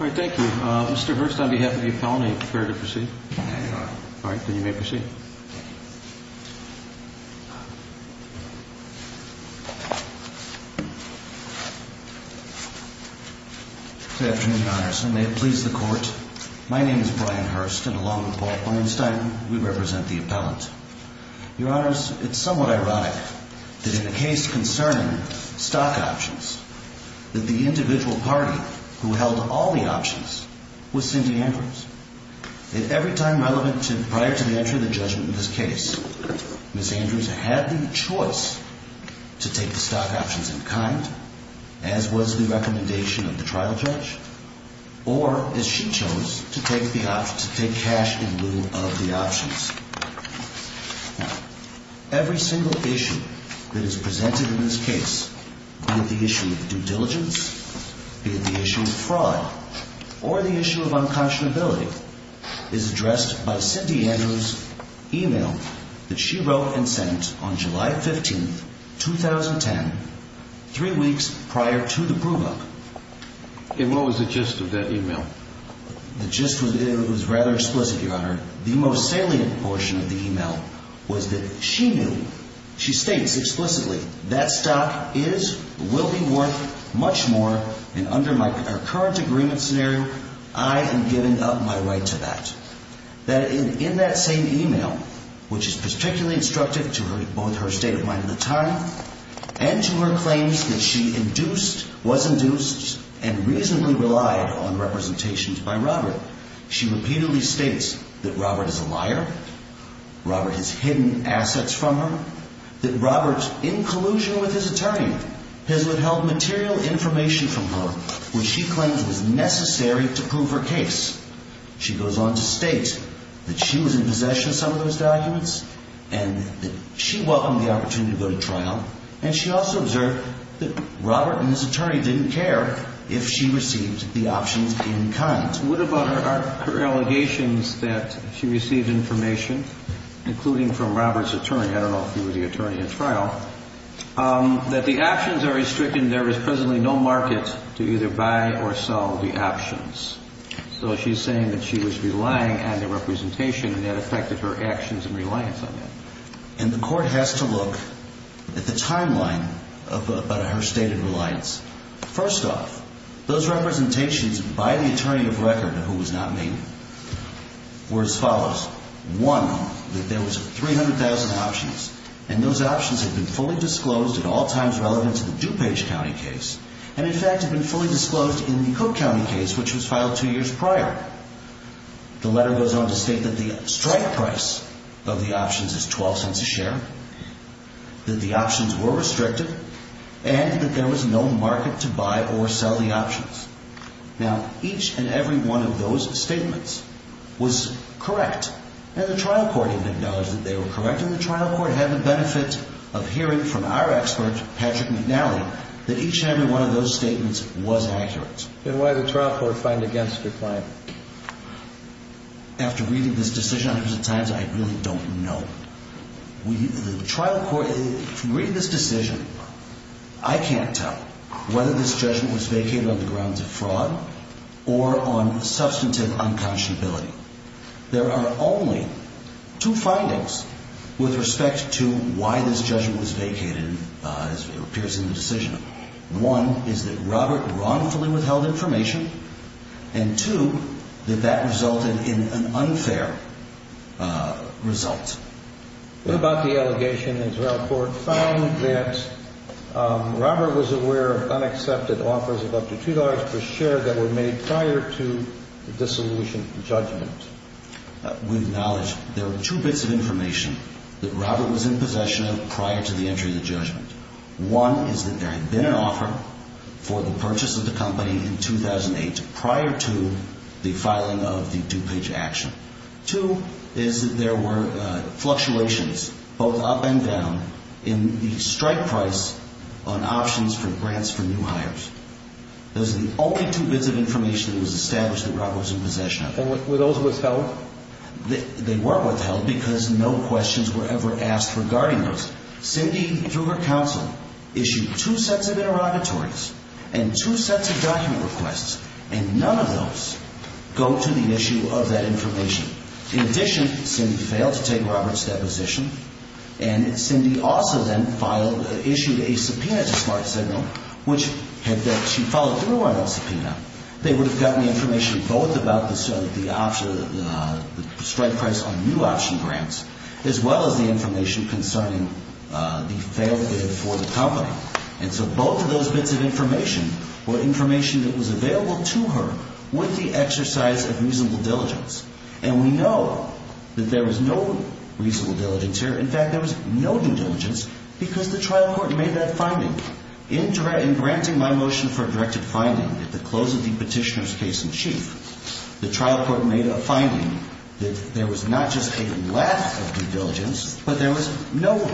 All right. Thank you, Mr Hearst. On behalf of the colony, prepare to proceed. All right, then you may proceed. Good afternoon, your honors, and may it please the court. My name is Brian Hearst, and along with Paul Feinstein, we represent the appellant. Your honors, it's somewhat ironic that in a case concerning stock options, that the individual party who held all the options was Cindy Andrews. If every time relevant prior to the entry of the judgment in this case, Ms. Andrews had the choice to take the stock options in kind, as was the recommendation of the trial judge, or as she chose, to take cash in lieu of the options, every single issue that is presented in this case, be it the issue of due diligence, be it the issue of fraud, or the issue of unconscionability, is addressed by Cindy Andrews' e-mail that she wrote and sent on July 15, 2010, three weeks prior to the prove-up. And what was the gist of that e-mail? The gist was rather explicit, your honor. The most salient portion of the e-mail was that she knew, she states explicitly, that stock is, will be worth much more, and under our current agreement scenario, I am giving up my right to that. That in that same e-mail, which is particularly instructive to her, both her state of mind at the time, and to her claims that she induced, was induced, and reasonably relied on representations by Robert, she repeatedly states that Robert is a liar, Robert has hidden assets from her, that Robert, in collusion with his attorney, has withheld material information from her which she claims was necessary to prove her case. She goes on to state that she was in possession of some of those documents, and that she welcomed the opportunity to go to trial, and she also observed that Robert and his attorney didn't care if she received the options in kind. What about her allegations that she received information, including from Robert's attorney, I don't know if he was the attorney at trial, that the options are restricted, and there is presently no market to either buy or sell the options. So she's saying that she was relying on the representation, and that affected her actions and reliance on that. And the court has to look at the timeline of her stated reliance. First off, those representations by the attorney of record, who was not me, were as follows. One, that there was 300,000 options, and those options had been fully disclosed at all times relevant to the DuPage County case, and in fact had been fully disclosed in the Cook County case, which was filed two years prior. The letter goes on to state that the strike price of the options is 12 cents a share, that the options were restricted, and that there was no market to buy or sell the options. Now, each and every one of those statements was correct, and the trial court even acknowledged that they were correct, and the trial court had the benefit of hearing from our expert, Patrick McNally, that each and every one of those statements was accurate. And why did the trial court find against the claim? After reading this decision hundreds of times, I really don't know. The trial court, if you read this decision, I can't tell whether this judgment was vacated on the grounds of fraud or on substantive unconscionability. There are only two findings with respect to why this judgment was vacated, as it appears in the decision. One is that Robert wrongfully withheld information, and two, that that resulted in an unfair result. What about the allegation the trial court found that Robert was aware of unaccepted offers of up to $2 per share that were made prior to the dissolution judgment? We acknowledge there were two bits of information that Robert was in possession of prior to the entry of the judgment. One is that there had been an offer for the purchase of the company in 2008 prior to the filing of the two-page action. Two is that there were fluctuations, both up and down, in the strike price on options for grants for new hires. Those are the only two bits of information that was established that Robert was in possession of. And were those withheld? They were withheld because no questions were ever asked regarding those. Cindy, through her counsel, issued two sets of interrogatories and two sets of document requests, and none of those go to the issue of that information. In addition, Cindy failed to take Robert's deposition, and Cindy also then filed, issued a subpoena to Smart Signal, which had that she followed through on that subpoena. They would have gotten the information both about the strike price on new option grants, as well as the information concerning the failed bid for the company. And so both of those bits of information were information that was available to her with the exercise of reasonable diligence. And we know that there was no reasonable diligence here. In fact, there was no due diligence because the trial court made that finding. In granting my motion for a directed finding at the close of the petitioner's case in chief, the trial court made a finding that there was not just a lack of due diligence, but there was no due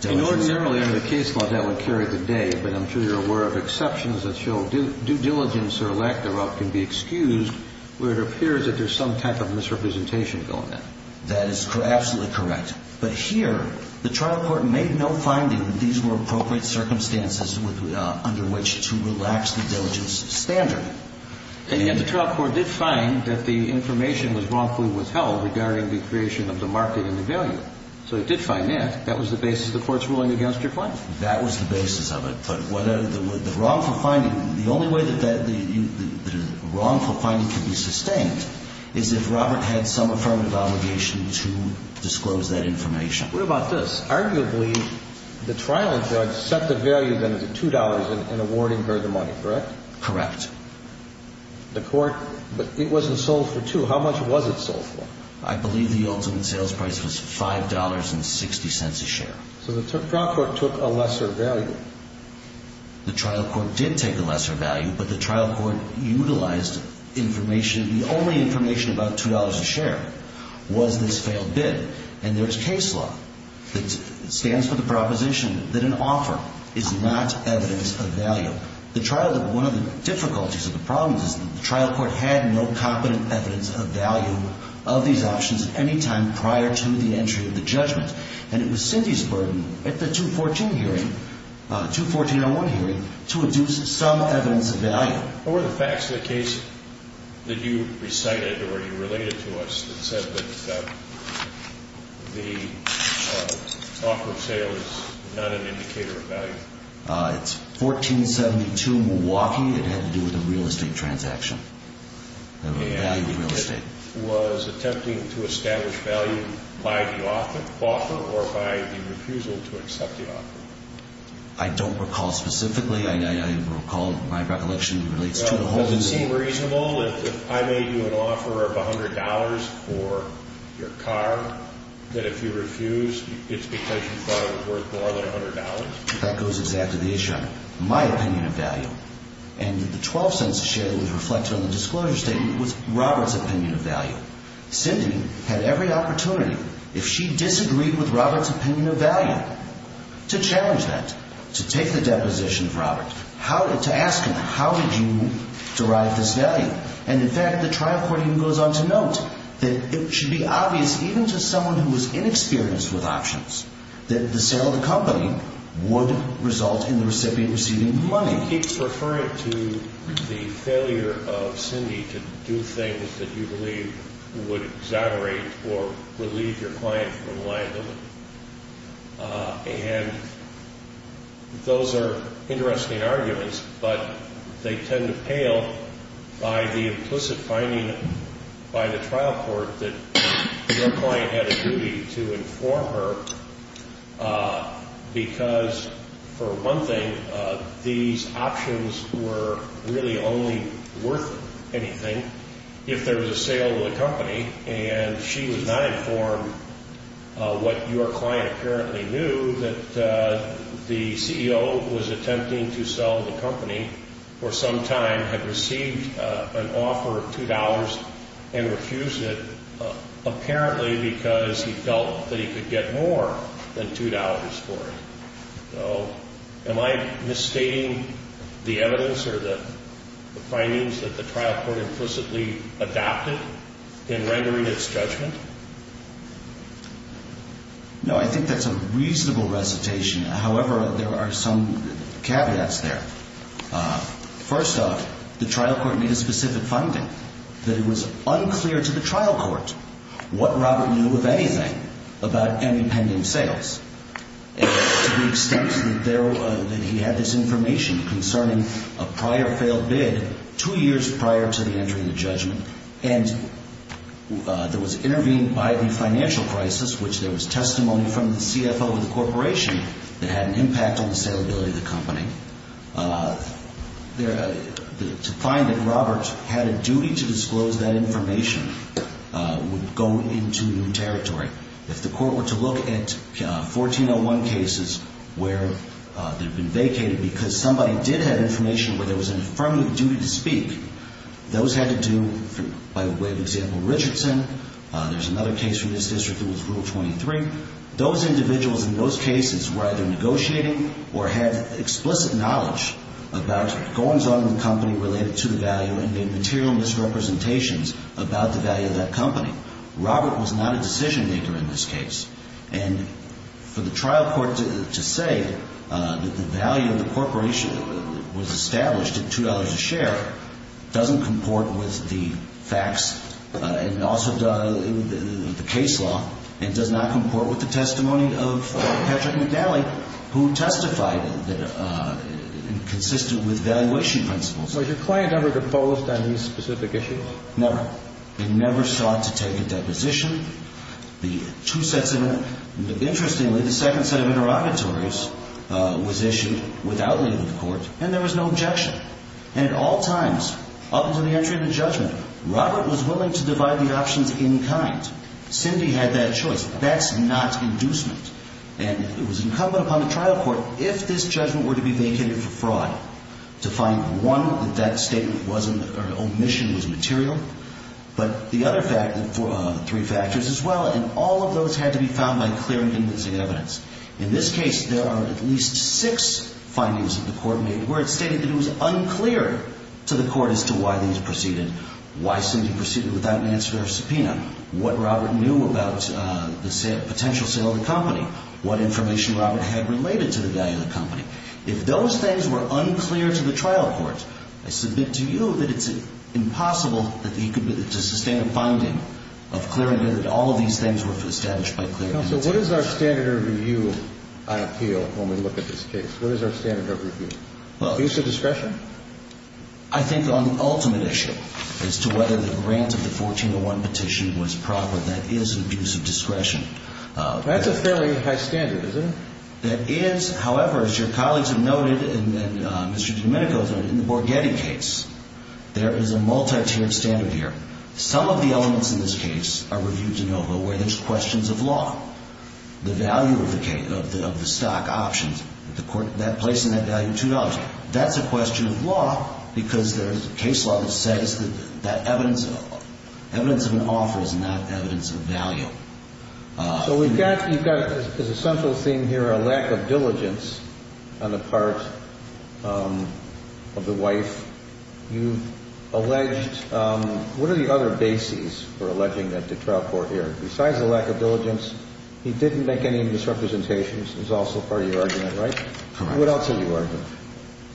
diligence. And ordinarily, under the case law, that would carry the day. But I'm sure you're aware of exceptions that show due diligence or lack thereof can be excused where it appears that there's some type of misrepresentation going on. That is absolutely correct. But here, the trial court made no finding that these were appropriate circumstances under which to relax the diligence standard. And yet the trial court did find that the information was wrongfully withheld regarding the creation of the market and the value. So it did find that. That was the basis of the court's ruling against your claim. That was the basis of it. But the wrongful finding, the only way that the wrongful finding can be sustained is if Robert had some affirmative obligation to disclose that information. What about this? Arguably, the trial judge set the value then at $2 in awarding her the money, correct? Correct. The court, but it wasn't sold for $2. How much was it sold for? I believe the ultimate sales price was $5.60 a share. So the trial court took a lesser value. The trial court did take a lesser value, but the trial court utilized information. The only information about $2 a share was this failed bid. And there's case law that stands for the proposition that an offer is not evidence of value. The trial, one of the difficulties or the problems is the trial court had no competent evidence of value of these options at any time prior to the entry of the judgment. And it was Cindy's burden at the 214 hearing, 214-01 hearing, to induce some evidence of value. What were the facts of the case that you recited or you related to us that said that the offer of sale is not an indicator of value? It's 1472 Milwaukee. It had to do with a real estate transaction, a value of real estate. Was attempting to establish value by the offer or by the refusal to accept the offer? I don't recall specifically. I recall my recollection relates to the whole thing. Does it seem reasonable if I made you an offer of $100 for your car that if you refuse, it's because you thought it was worth more than $100? That goes exactly to the issue. And the $0.12 share was reflected on the disclosure statement was Robert's opinion of value. Cindy had every opportunity, if she disagreed with Robert's opinion of value, to challenge that, to take the deposition of Robert, to ask him, how did you derive this value? And in fact, the trial court even goes on to note that it should be obvious, even to someone who was inexperienced with options, that the sale of the company would result in the recipient receiving the money. He keeps referring to the failure of Cindy to do things that you believe would exaggerate or relieve your client from the liability. And those are interesting arguments, but they tend to pale by the implicit finding by the trial court that your client had a duty to inform her because, for one thing, these options were really only worth anything. And if there was a sale of the company and she was not informed what your client apparently knew, that the CEO who was attempting to sell the company for some time had received an offer of $2 and refused it apparently because he felt that he could get more than $2 for it. So am I misstating the evidence or the findings that the trial court implicitly adapted in rendering its judgment? No, I think that's a reasonable recitation. However, there are some caveats there. First off, the trial court made a specific finding that it was unclear to the trial court what Robert knew of anything about any pending sales to the extent that he had this information concerning a prior failed bid two years prior to the entry of the judgment. And there was intervening by the financial crisis, which there was testimony from the CFO of the corporation that had an impact on the salability of the company. To find that Robert had a duty to disclose that information would go into new territory. If the court were to look at 1401 cases where they've been vacated because somebody did have information where there was an affirmative duty to speak, those had to do, by way of example, Richardson. There's another case from this district that was Rule 23. Those individuals in those cases were either negotiating or had explicit knowledge about goings-on in the company related to the value and made material misrepresentations about the value of that company. Robert was not a decision-maker in this case. And for the trial court to say that the value of the corporation was established at $2 a share doesn't comport with the facts and also the case law and does not comport with the testimony of Patrick McNally, who testified that it consisted with valuation principles. So your client never proposed any specific issues? Never. They never sought to take a deposition. Interestingly, the second set of interrogatories was issued without leaving the court, and there was no objection. And at all times, up until the entry of the judgment, Robert was willing to divide the options in kind. Cindy had that choice. That's not inducement. And it was incumbent upon the trial court, if this judgment were to be vacated for fraud, to find, one, that that statement wasn't or omission was material, but the other three factors as well. And all of those had to be found by clearing convincing evidence. In this case, there are at least six findings that the court made where it stated that it was unclear to the court as to why these proceeded. Why Cindy proceeded without an answer to her subpoena. What Robert knew about the potential sale of the company. What information Robert had related to the value of the company. If those things were unclear to the trial court, I submit to you that it's impossible to sustain a finding of clearing evidence. All of these things were established by clearing evidence. Counsel, what is our standard of review on appeal when we look at this case? What is our standard of review? Peace of discretion? I think on the ultimate issue as to whether the grant of the 1401 petition was proper, that is an abuse of discretion. That's a fairly high standard, isn't it? That is. However, as your colleagues have noted, and Mr. DiDomenico has noted, in the Borghetti case, there is a multi-tiered standard here. Some of the elements in this case are reviewed de novo where there's questions of law. The value of the case, of the stock options, the court placing that value $2. That's a question of law because there is a case law that says that evidence of an offer is not evidence of value. So we've got, as a central theme here, a lack of diligence on the part of the wife. You've alleged, what are the other bases for alleging that the trial court here, besides the lack of diligence, he didn't make any misrepresentations is also part of your argument, right? Correct. What else is your argument?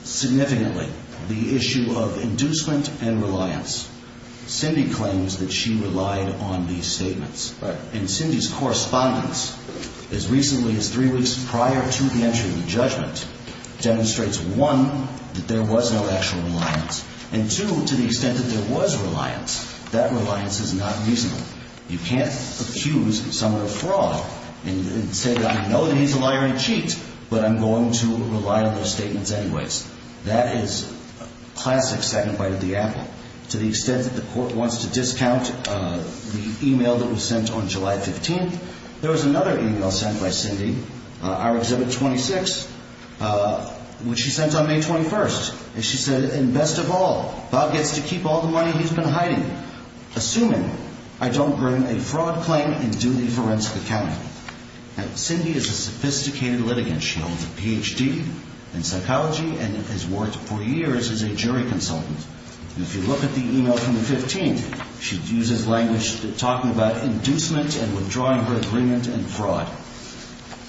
Significantly, the issue of inducement and reliance. Cindy claims that she relied on these statements. Right. And Cindy's correspondence as recently as three weeks prior to the entry of the judgment demonstrates, one, that there was no actual reliance, and two, to the extent that there was reliance, that reliance is not reasonable. You can't accuse someone of fraud and say, I know that he's a liar and cheat, but I'm going to rely on those statements anyways. That is classic second bite of the apple. To the extent that the court wants to discount the e-mail that was sent on July 15th, there was another e-mail sent by Cindy, our exhibit 26, which she sent on May 21st. And she said, and best of all, Bob gets to keep all the money he's been hiding. Assuming I don't earn a fraud claim and do the forensic accounting. Now, Cindy is a sophisticated litigant. She holds a Ph.D. in psychology and has worked for years as a jury consultant. And if you look at the e-mail from the 15th, she uses language talking about inducement and withdrawing her agreement and fraud.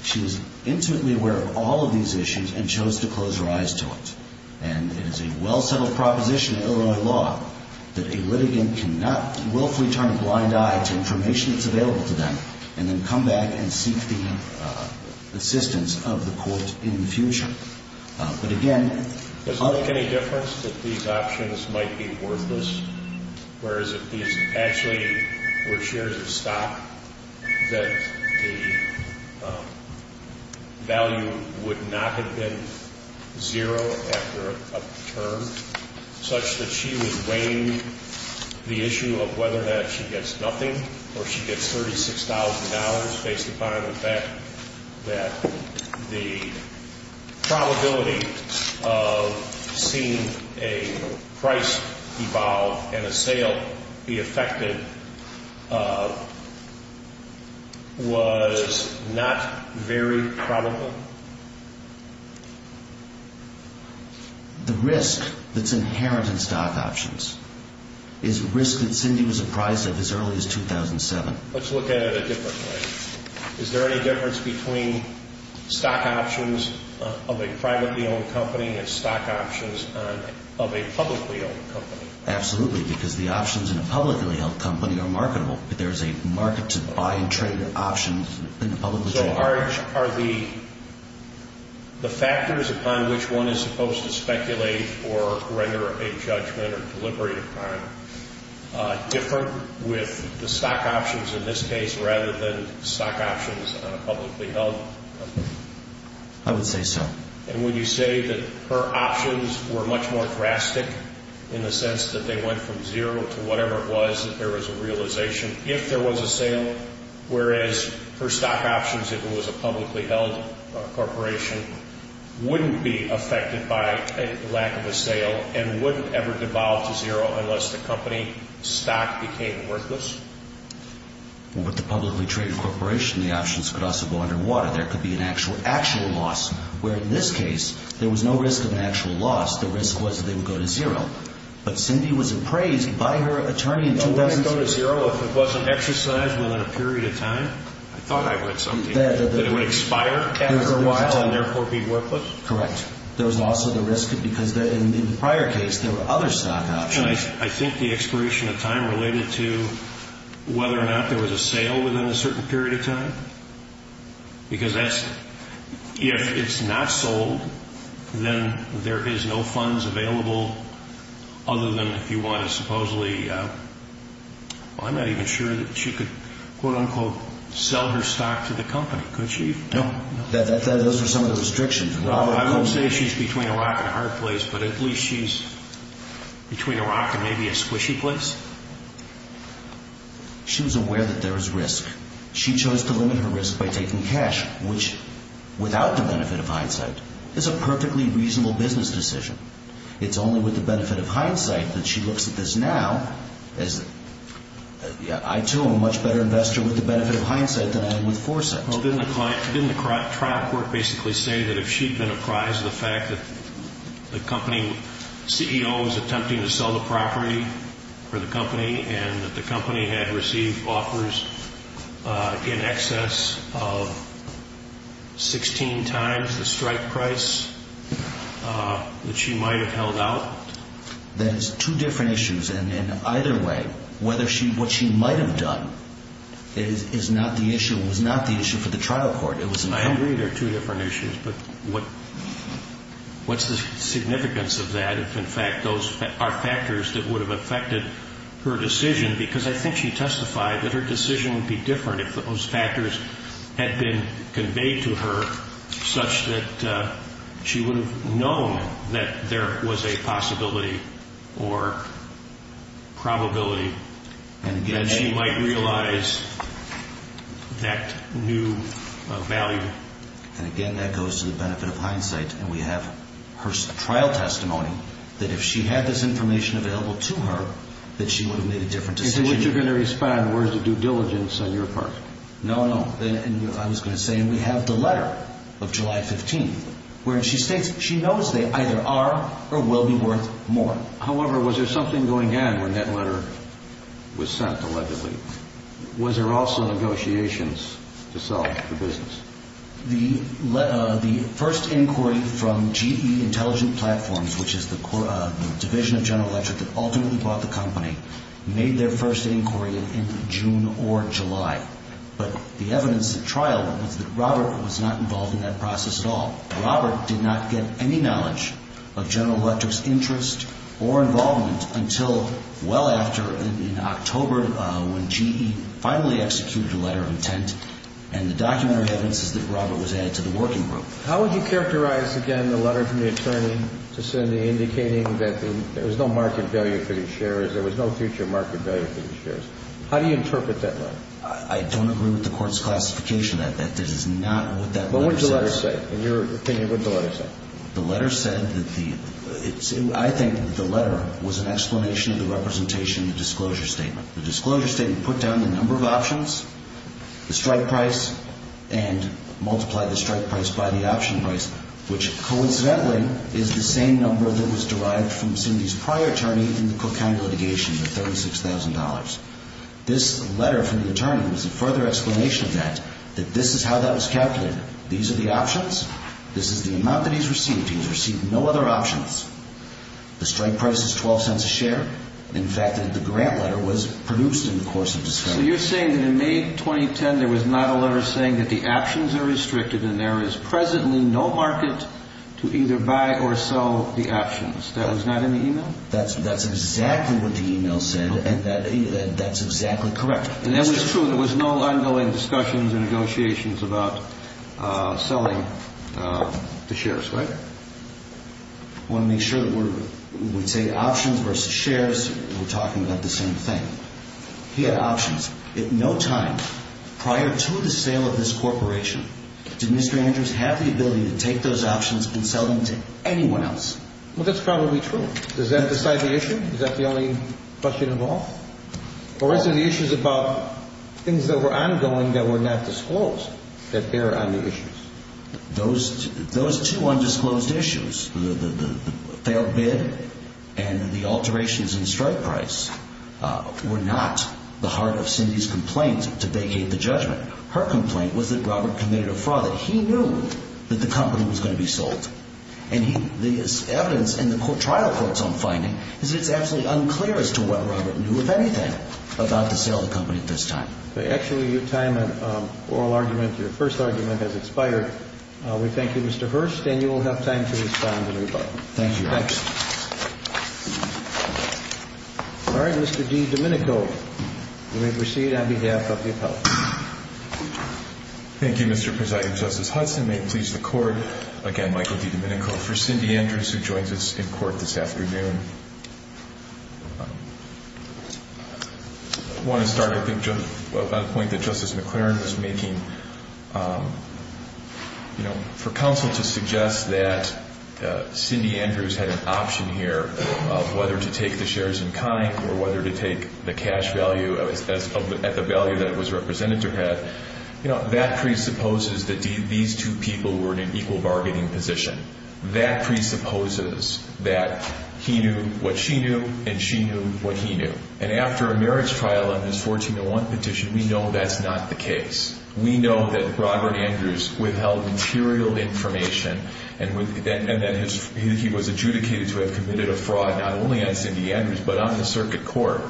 She was intimately aware of all of these issues and chose to close her eyes to it. And it is a well-settled proposition in Illinois law that a litigant cannot willfully turn a blind eye to information that's available to them and then come back and seek the assistance of the court in the future. Does it make any difference that these options might be worthless, whereas if these actually were shares of stock, that the value would not have been zero after a term, such that she was weighing the issue of whether or not she gets nothing or she gets $36,000 based upon the fact that the probability of seeing a price evolve and a sale be affected was not very probable? The risk that's inherent in stock options is a risk that Cindy was apprised of as early as 2007. Let's look at it a different way. Is there any difference between stock options of a privately owned company and stock options of a publicly owned company? Absolutely, because the options in a publicly held company are marketable. There's a market to buy and trade options in a publicly traded company. How large are the factors upon which one is supposed to speculate or render a judgment or deliberate a crime different with the stock options, in this case, rather than stock options on a publicly held company? I would say so. And would you say that her options were much more drastic in the sense that they went from zero to whatever it was, if there was a realization, if there was a sale, whereas her stock options, if it was a publicly held corporation, wouldn't be affected by a lack of a sale and wouldn't ever devolve to zero unless the company stock became worthless? With the publicly traded corporation, the options could also go underwater. There could be an actual loss, where in this case, there was no risk of an actual loss. The risk was that they would go to zero. But Cindy was appraised by her attorney in 2000. Wouldn't it go to zero if it wasn't exercised within a period of time? I thought I read something. That it would expire after a while and therefore be worthless? Correct. There was also the risk, because in the prior case, there were other stock options. I think the expiration of time related to whether or not there was a sale within a certain period of time. Because if it's not sold, then there is no funds available other than if you want to supposedly, well, I'm not even sure that she could, quote unquote, sell her stock to the company, could she? No. Those are some of the restrictions. I wouldn't say she's between a rock and a hard place, but at least she's between a rock and maybe a squishy place. She was aware that there was risk. She chose to limit her risk by taking cash, which, without the benefit of hindsight, is a perfectly reasonable business decision. It's only with the benefit of hindsight that she looks at this now as, I, too, am a much better investor with the benefit of hindsight than I am with foresight. Well, didn't the trial court basically say that if she'd been apprised of the fact that the company CEO was attempting to sell the property for the company and that the company had received offers in excess of 16 times the strike price that she might have held out? That is two different issues, and either way, what she might have done is not the issue and was not the issue for the trial court. I agree they're two different issues, but what's the significance of that if, in fact, those are factors that would have affected her decision? Because I think she testified that her decision would be different if those factors had been conveyed to her such that she would have known that there was a possibility or probability that she might realize that new value. And again, that goes to the benefit of hindsight, and we have her trial testimony that if she had this information available to her, that she would have made a different decision. Is it what you're going to respond where it's a due diligence on your part? No, no. I was going to say we have the letter of July 15th where she states she knows they either are or will be worth more. However, was there something going on when that letter was sent, allegedly? Was there also negotiations to solve the business? The first inquiry from GE Intelligent Platforms, which is the division of General Electric that ultimately bought the company, made their first inquiry in June or July. But the evidence at trial was that Robert was not involved in that process at all. Robert did not get any knowledge of General Electric's interest or involvement until well after, in October, when GE finally executed a letter of intent, and the documentary evidence is that Robert was added to the working group. How would you characterize, again, the letter from the attorney to Cindy indicating that there was no market value for these shares, there was no future market value for these shares? How do you interpret that letter? I don't agree with the Court's classification of that. That is not what that letter said. Well, what did the letter say? In your opinion, what did the letter say? The letter said that the—I think that the letter was an explanation of the representation in the disclosure statement. The disclosure statement put down the number of options, the strike price, and multiplied the strike price by the option price, which coincidentally is the same number that was derived from Cindy's prior attorney in the Cook County litigation, the $36,000. This letter from the attorney was a further explanation of that, that this is how that was calculated. These are the options. This is the amount that he's received. He's received no other options. The strike price is $0.12 a share. In fact, the grant letter was produced in the course of disclosure. So you're saying that in May 2010 there was not a letter saying that the options are restricted and there is presently no market to either buy or sell the options. That was not in the email? That's exactly what the email said, and that's exactly correct. And that was true. There was no ongoing discussions or negotiations about selling the shares, right? I want to make sure that we're—we say options versus shares. We're talking about the same thing. He had options. At no time prior to the sale of this corporation did Mr. Andrews have the ability to take those options and sell them to anyone else. Well, that's probably true. Does that decide the issue? Is that the only question of all? Or is it the issues about things that were ongoing that were not disclosed that bear on the issues? Those two undisclosed issues, the fair bid and the alterations in strike price, were not the heart of Cindy's complaint to vacate the judgment. Her complaint was that Robert committed a fraud, that he knew that the company was going to be sold. And the evidence in the trial court's own finding is that it's absolutely unclear as to what Robert knew, if anything, about the sale of the company at this time. Actually, your time on oral argument, your first argument, has expired. We thank you, Mr. Hurst, and you will have time to respond in rebuttal. Thank you. Thanks. All right, Mr. G. Domenico, you may proceed on behalf of the appellate. Thank you, Mr. Presiding Justice Hudson. May it please the Court, again, Michael D. Domenico, for Cindy Andrews, who joins us in court this afternoon. I want to start, I think, on a point that Justice McClaren was making. For counsel to suggest that Cindy Andrews had an option here of whether to take the shares in kind or whether to take the cash value at the value that it was represented to have, that presupposes that these two people were in an equal bargaining position. That presupposes that he knew what she knew and she knew what he knew. And after a merits trial on this 1401 petition, we know that's not the case. We know that Robert Andrews withheld material information and that he was adjudicated to have committed a fraud not only on Cindy Andrews but on the circuit court.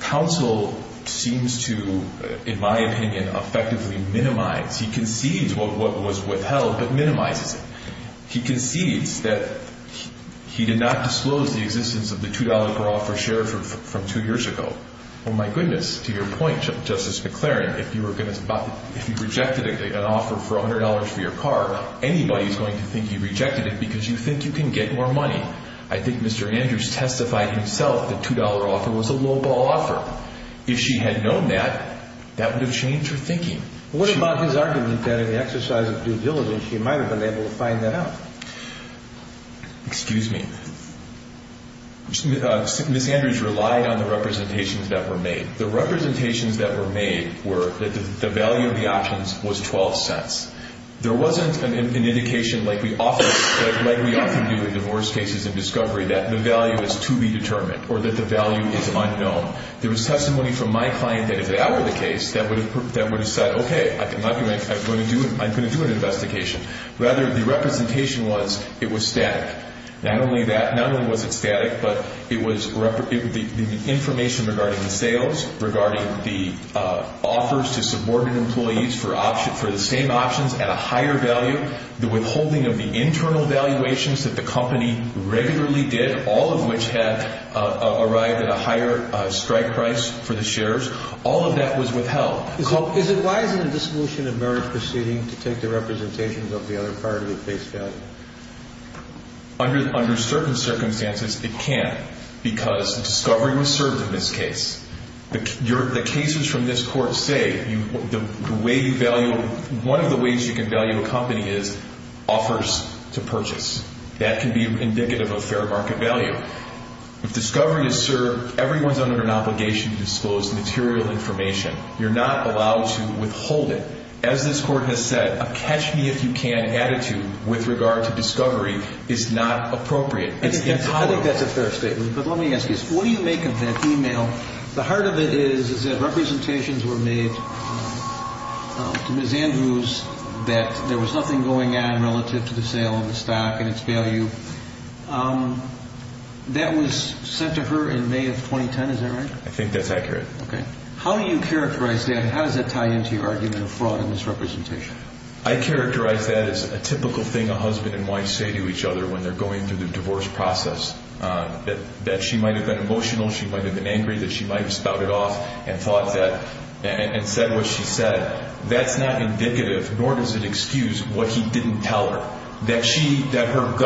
Counsel seems to, in my opinion, effectively minimize. He concedes what was withheld but minimizes it. He concedes that he did not disclose the existence of the $2 per offer share from two years ago. Well, my goodness, to your point, Justice McClaren, if you rejected an offer for $100 for your car, anybody's going to think you rejected it because you think you can get more money. I think Mr. Andrews testified himself that a $2 offer was a lowball offer. If she had known that, that would have changed her thinking. What about his argument that in the exercise of due diligence she might have been able to find that out? Excuse me. Ms. Andrews relied on the representations that were made. The representations that were made were that the value of the options was $0.12. There wasn't an indication like we often do with divorce cases and discovery that the value is to be determined or that the value is unknown. There was testimony from my client that if that were the case, that would have said, okay, I'm going to do an investigation. Rather, the representation was it was static. Not only was it static, but the information regarding the sales, regarding the offers to subordinate employees for the same options at a higher value, the withholding of the internal valuations that the company regularly did, all of which had arrived at a higher strike price for the shares, all of that was withheld. Is it wise in a dissolution of marriage proceeding to take the representations of the other party at face value? Under certain circumstances, it can because discovery was served in this case. The cases from this court say one of the ways you can value a company is offers to purchase. That can be indicative of fair market value. If discovery is served, everyone is under an obligation to disclose material information. You're not allowed to withhold it. As this court has said, a catch-me-if-you-can attitude with regard to discovery is not appropriate. I think that's a fair statement. But let me ask you, what do you make of that email? The heart of it is that representations were made to Ms. Andrews that there was nothing going on relative to the sale of the stock and its value. That was sent to her in May of 2010, is that right? I think that's accurate. How do you characterize that, and how does that tie into your argument of fraud in this representation? I characterize that as a typical thing a husband and wife say to each other when they're going through the divorce process, that she might have been emotional, she might have been angry, that she might have spouted off and said what she said. That's not indicative, nor does it excuse what he didn't tell her, that her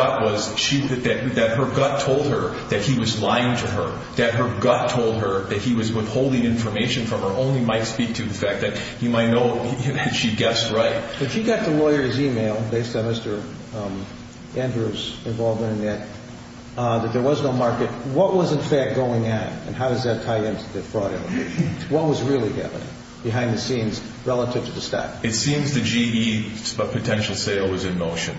gut told her that he was lying to her, that her gut told her that he was withholding information from her, only might speak to the fact that he might know that she guessed right. But you got the lawyer's email, based on Mr. Andrews' involvement in that, that there was no market. What was, in fact, going on, and how does that tie into the fraud element? What was really happening behind the scenes relative to the stock? It seems the GE potential sale was in motion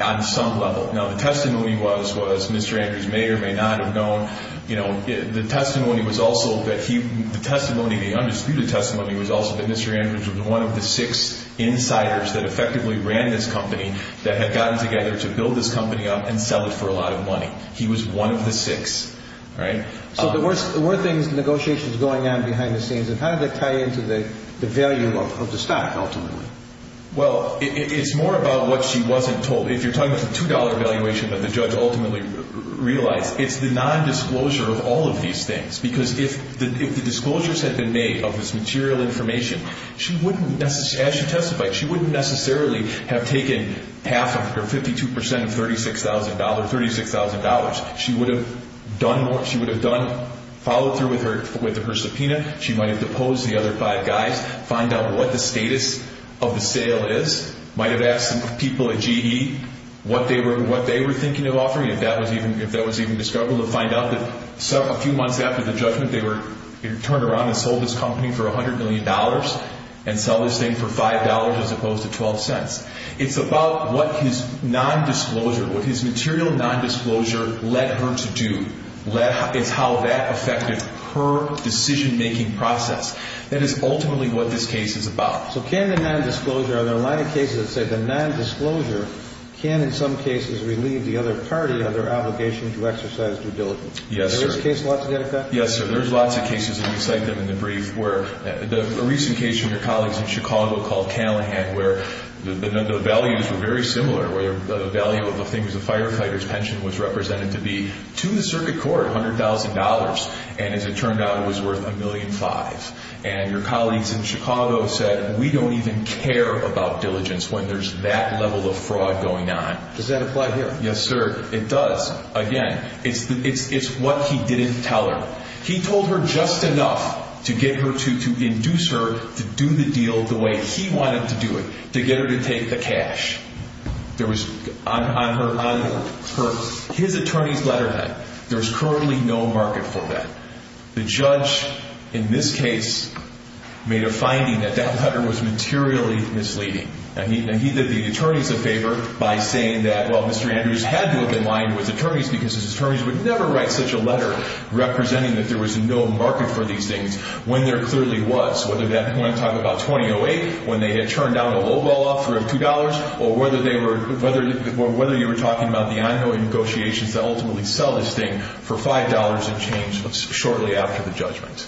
on some level. Now, the testimony was Mr. Andrews may or may not have known. The testimony, the undisputed testimony, was also that Mr. Andrews was one of the six insiders that effectively ran this company that had gotten together to build this company up and sell it for a lot of money. He was one of the six. So there were negotiations going on behind the scenes, and how did that tie into the value of the stock, ultimately? Well, it's more about what she wasn't told. If you're talking about the $2 valuation that the judge ultimately realized, it's the nondisclosure of all of these things, because if the disclosures had been made of this material information, she wouldn't necessarily, as she testified, she wouldn't necessarily have taken half of her 52% of $36,000. She would have done more. She would have followed through with her subpoena. She might have deposed the other five guys, find out what the status of the sale is, might have asked some people at GE what they were thinking of offering, if that was even discovered, or find out that a few months after the judgment, they turned around and sold this company for $100 million and sell this thing for $5 as opposed to $0.12. It's about what his nondisclosure, what his material nondisclosure led her to do. It's how that affected her decision-making process. That is ultimately what this case is about. So can the nondisclosure, are there a lot of cases that say the nondisclosure can, in some cases, relieve the other party of their obligation to exercise due diligence? Yes, sir. Is there a case like that? Yes, sir. There's lots of cases, and we cite them in the brief, where a recent case from your colleagues in Chicago called Callahan, where the values were very similar, where the value of the thing was a firefighter's pension was represented to be, to the circuit court, $100,000, and as it turned out, it was worth $1.5 million. And your colleagues in Chicago said, we don't even care about diligence when there's that level of fraud going on. Does that apply here? Yes, sir. It does. Again, it's what he didn't tell her. He told her just enough to get her to induce her to do the deal the way he wanted to do it, to get her to take the cash. There was, on his attorney's letterhead, there's currently no market for that. The judge, in this case, made a finding that that letter was materially misleading. And he did the attorneys a favor by saying that, well, Mr. Andrews had to have been lying to his attorneys because his attorneys would never write such a letter representing that there was no market for these things, when there clearly was, whether at that point I'm talking about 2008, when they had turned down a lowball offer of $2, or whether you were talking about the ongoing negotiations that ultimately sell this thing for $5 and change. That was shortly after the judgment.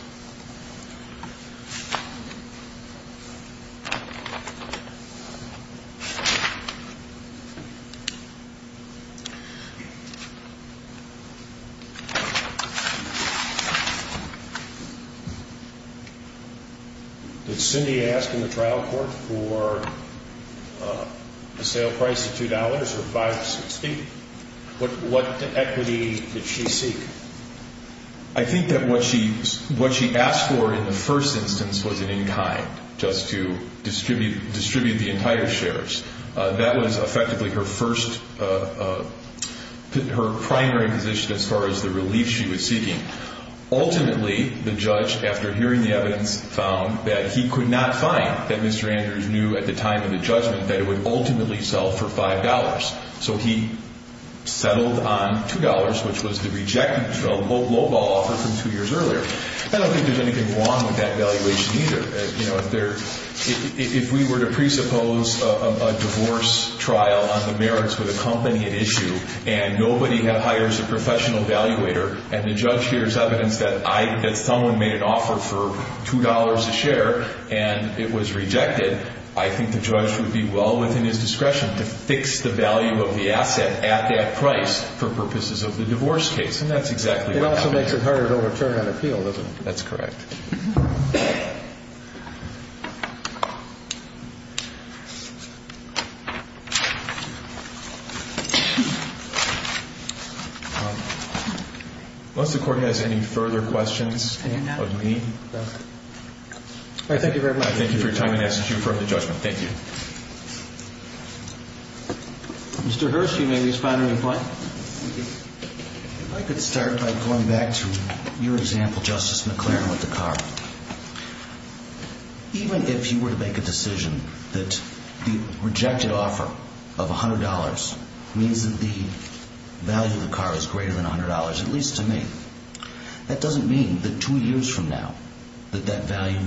Did Cindy ask in the trial court for a sale price of $2 or $5.60? What equity did she seek? I think that what she asked for in the first instance was an in kind, just to distribute the entire shares. That was effectively her primary position as far as the relief she was seeking. Ultimately, the judge, after hearing the evidence, found that he could not find that Mr. Andrews knew at the time of the judgment that it would ultimately sell for $5. So he settled on $2, which was the rejected lowball offer from two years earlier. I don't think there's anything wrong with that valuation either. If we were to presuppose a divorce trial on the merits with a company at issue, and nobody hires a professional evaluator, and the judge hears evidence that someone made an offer for $2 a share, and it was rejected, I think the judge would be well within his discretion to fix the value of the asset at that price for purposes of the divorce case. And that's exactly what happened. It also makes it harder to overturn an appeal, doesn't it? That's correct. Unless the court has any further questions of me. All right. Thank you very much. Thank you for your time. And I ask that you refer to judgment. Thank you. Mr. Hirst, you may respond to me if you'd like. If I could start by going back to your example, Justice McClaren, with the cost of the property. Even if you were to make a decision that the rejected offer of $100 means that the value of the car is greater than $100, at least to me, that doesn't mean that two years from now that that value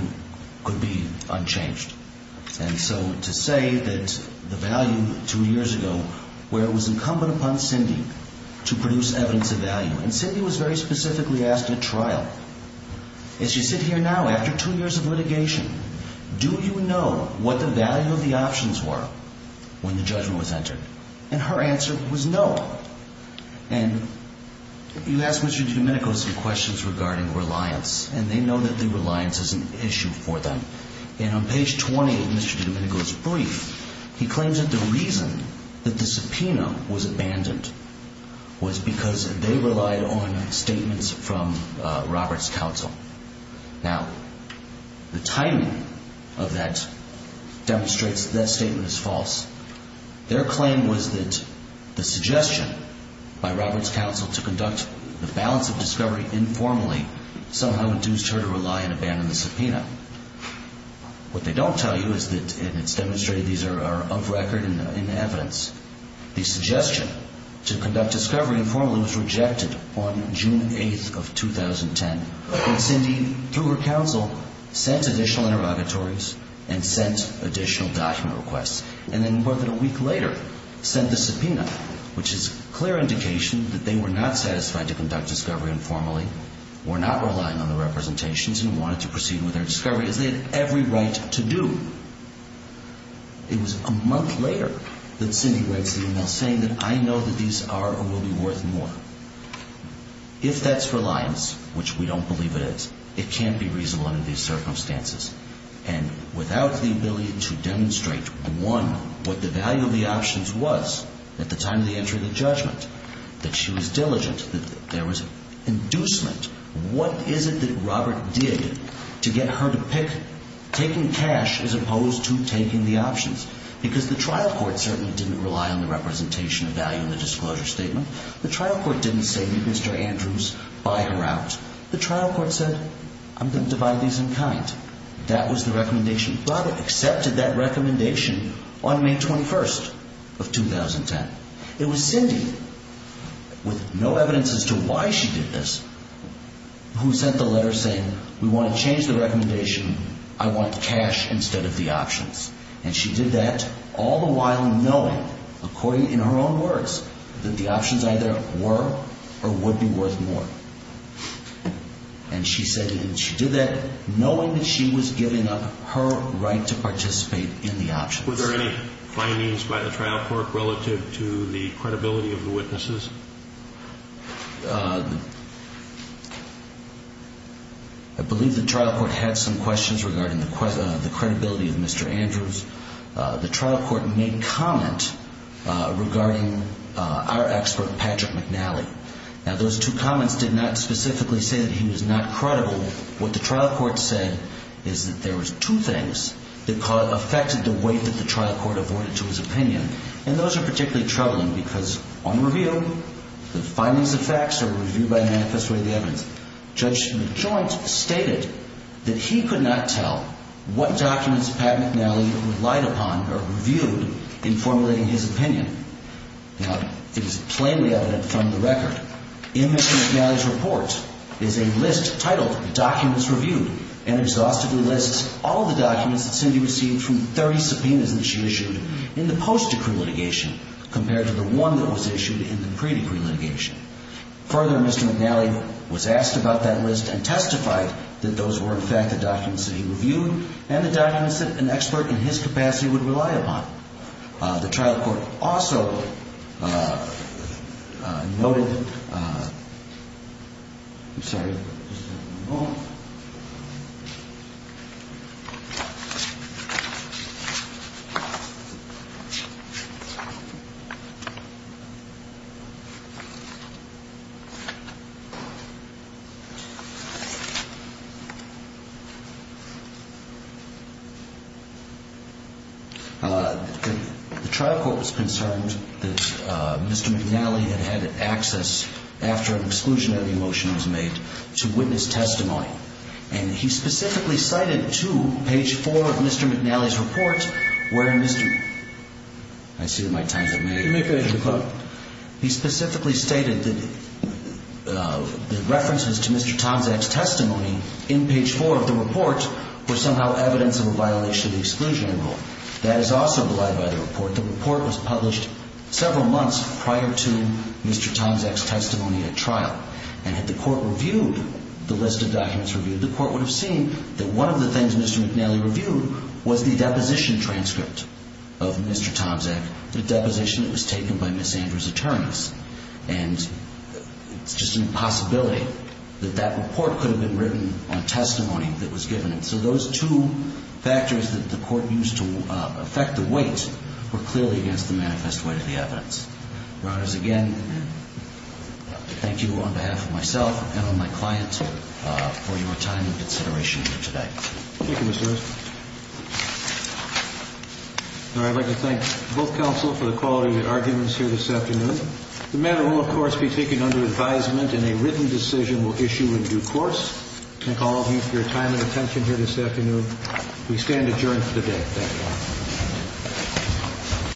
could be unchanged. And so to say that the value two years ago where it was incumbent upon Cindy to produce evidence of value, and Cindy was very specifically asked at trial, as you sit here now after two years of litigation, do you know what the value of the options were when the judgment was entered? And her answer was no. And you asked Mr. Domenico some questions regarding reliance, and they know that the reliance is an issue for them. And on page 20 of Mr. Domenico's brief, he claims that the reason that the subpoena was abandoned was because they relied on statements from Roberts Counsel. Now, the timing of that demonstrates that that statement is false. Their claim was that the suggestion by Roberts Counsel to conduct the balance of discovery informally somehow induced her to rely and abandon the subpoena. What they don't tell you is that, and it's demonstrated these are of record and in evidence, the suggestion to conduct discovery informally was rejected on June 8th of 2010. And Cindy, through her counsel, sent additional interrogatories and sent additional document requests. And then more than a week later sent the subpoena, which is a clear indication that they were not satisfied to conduct discovery informally, were not relying on the representations, and wanted to proceed with their discovery as they had every right to do. It was a month later that Cindy writes the email saying that I know that these are or will be worth more. If that's reliance, which we don't believe it is, it can't be reasonable under these circumstances. And without the ability to demonstrate, one, what the value of the options was at the time of the entry of the judgment, that she was diligent, that there was inducement, what is it that Robert did to get her to pick and cash as opposed to taking the options? Because the trial court certainly didn't rely on the representation of value in the disclosure statement. The trial court didn't say, Mr. Andrews, buy her out. The trial court said, I'm going to divide these in kind. That was the recommendation. Robert accepted that recommendation on May 21st of 2010. It was Cindy, with no evidence as to why she did this, who sent the letter saying, we want to change the recommendation. I want cash instead of the options. And she did that, all the while knowing, according in her own words, that the options either were or would be worth more. And she said that she did that knowing that she was giving up her right to participate in the options. Were there any findings by the trial court relative to the credibility of the witnesses? I believe the trial court had some questions regarding the credibility of Mr. Andrews. The trial court made comment regarding our expert, Patrick McNally. Now, those two comments did not specifically say that he was not credible. What the trial court said is that there was two things that affected the way that the trial court avoided to his opinion. And those are particularly troubling, because on review, the findings of facts are reviewed by a manifest way of the evidence. Judge McJoint stated that he could not tell what documents Pat McNally relied upon or reviewed in formulating his opinion. Now, it is plainly evident from the record in Mr. McNally's report is a list titled Documents Reviewed, and exhaustively lists all the documents that Cindy received from 30 subpoenas that she issued in the post-decree litigation compared to the one that was issued in the pre-decree litigation. Further, Mr. McNally was asked about that list and testified that those were, in fact, the documents that he reviewed and the documents that an expert in his capacity would rely upon. The trial court also noted... I'm sorry. The trial court was concerned that Mr. McNally had had access, after an exclusionary motion was made, to witness testimony. And he specifically cited two, page four of Mr. McNally's report, where Mr. McNally... I see that my time's up. He specifically stated that the references to Mr. Tomczak's testimony in page four of the report were somehow evidence of a violation of the exclusionary rule. That is also belied by the report. The report was published several months prior to Mr. Tomczak's testimony at trial. And had the court reviewed the list of documents reviewed, the court would have seen that one of the things Mr. McNally reviewed was the deposition transcript of Mr. Tomczak, the deposition that was taken by Ms. Andrews' attorneys. And it's just a possibility that that report could have been written on testimony that was given. So those two factors that the court used to affect the weight were clearly against the manifest weight of the evidence. Your Honors, again, I'd like to thank you on behalf of myself and on my client for your time and consideration here today. Thank you, Mr. Erskine. And I'd like to thank both counsel for the quality of your arguments here this afternoon. The matter will, of course, be taken under advisement, and a written decision will issue in due course. Thank all of you for your time and attention here this afternoon. We stand adjourned for the day. Thank you.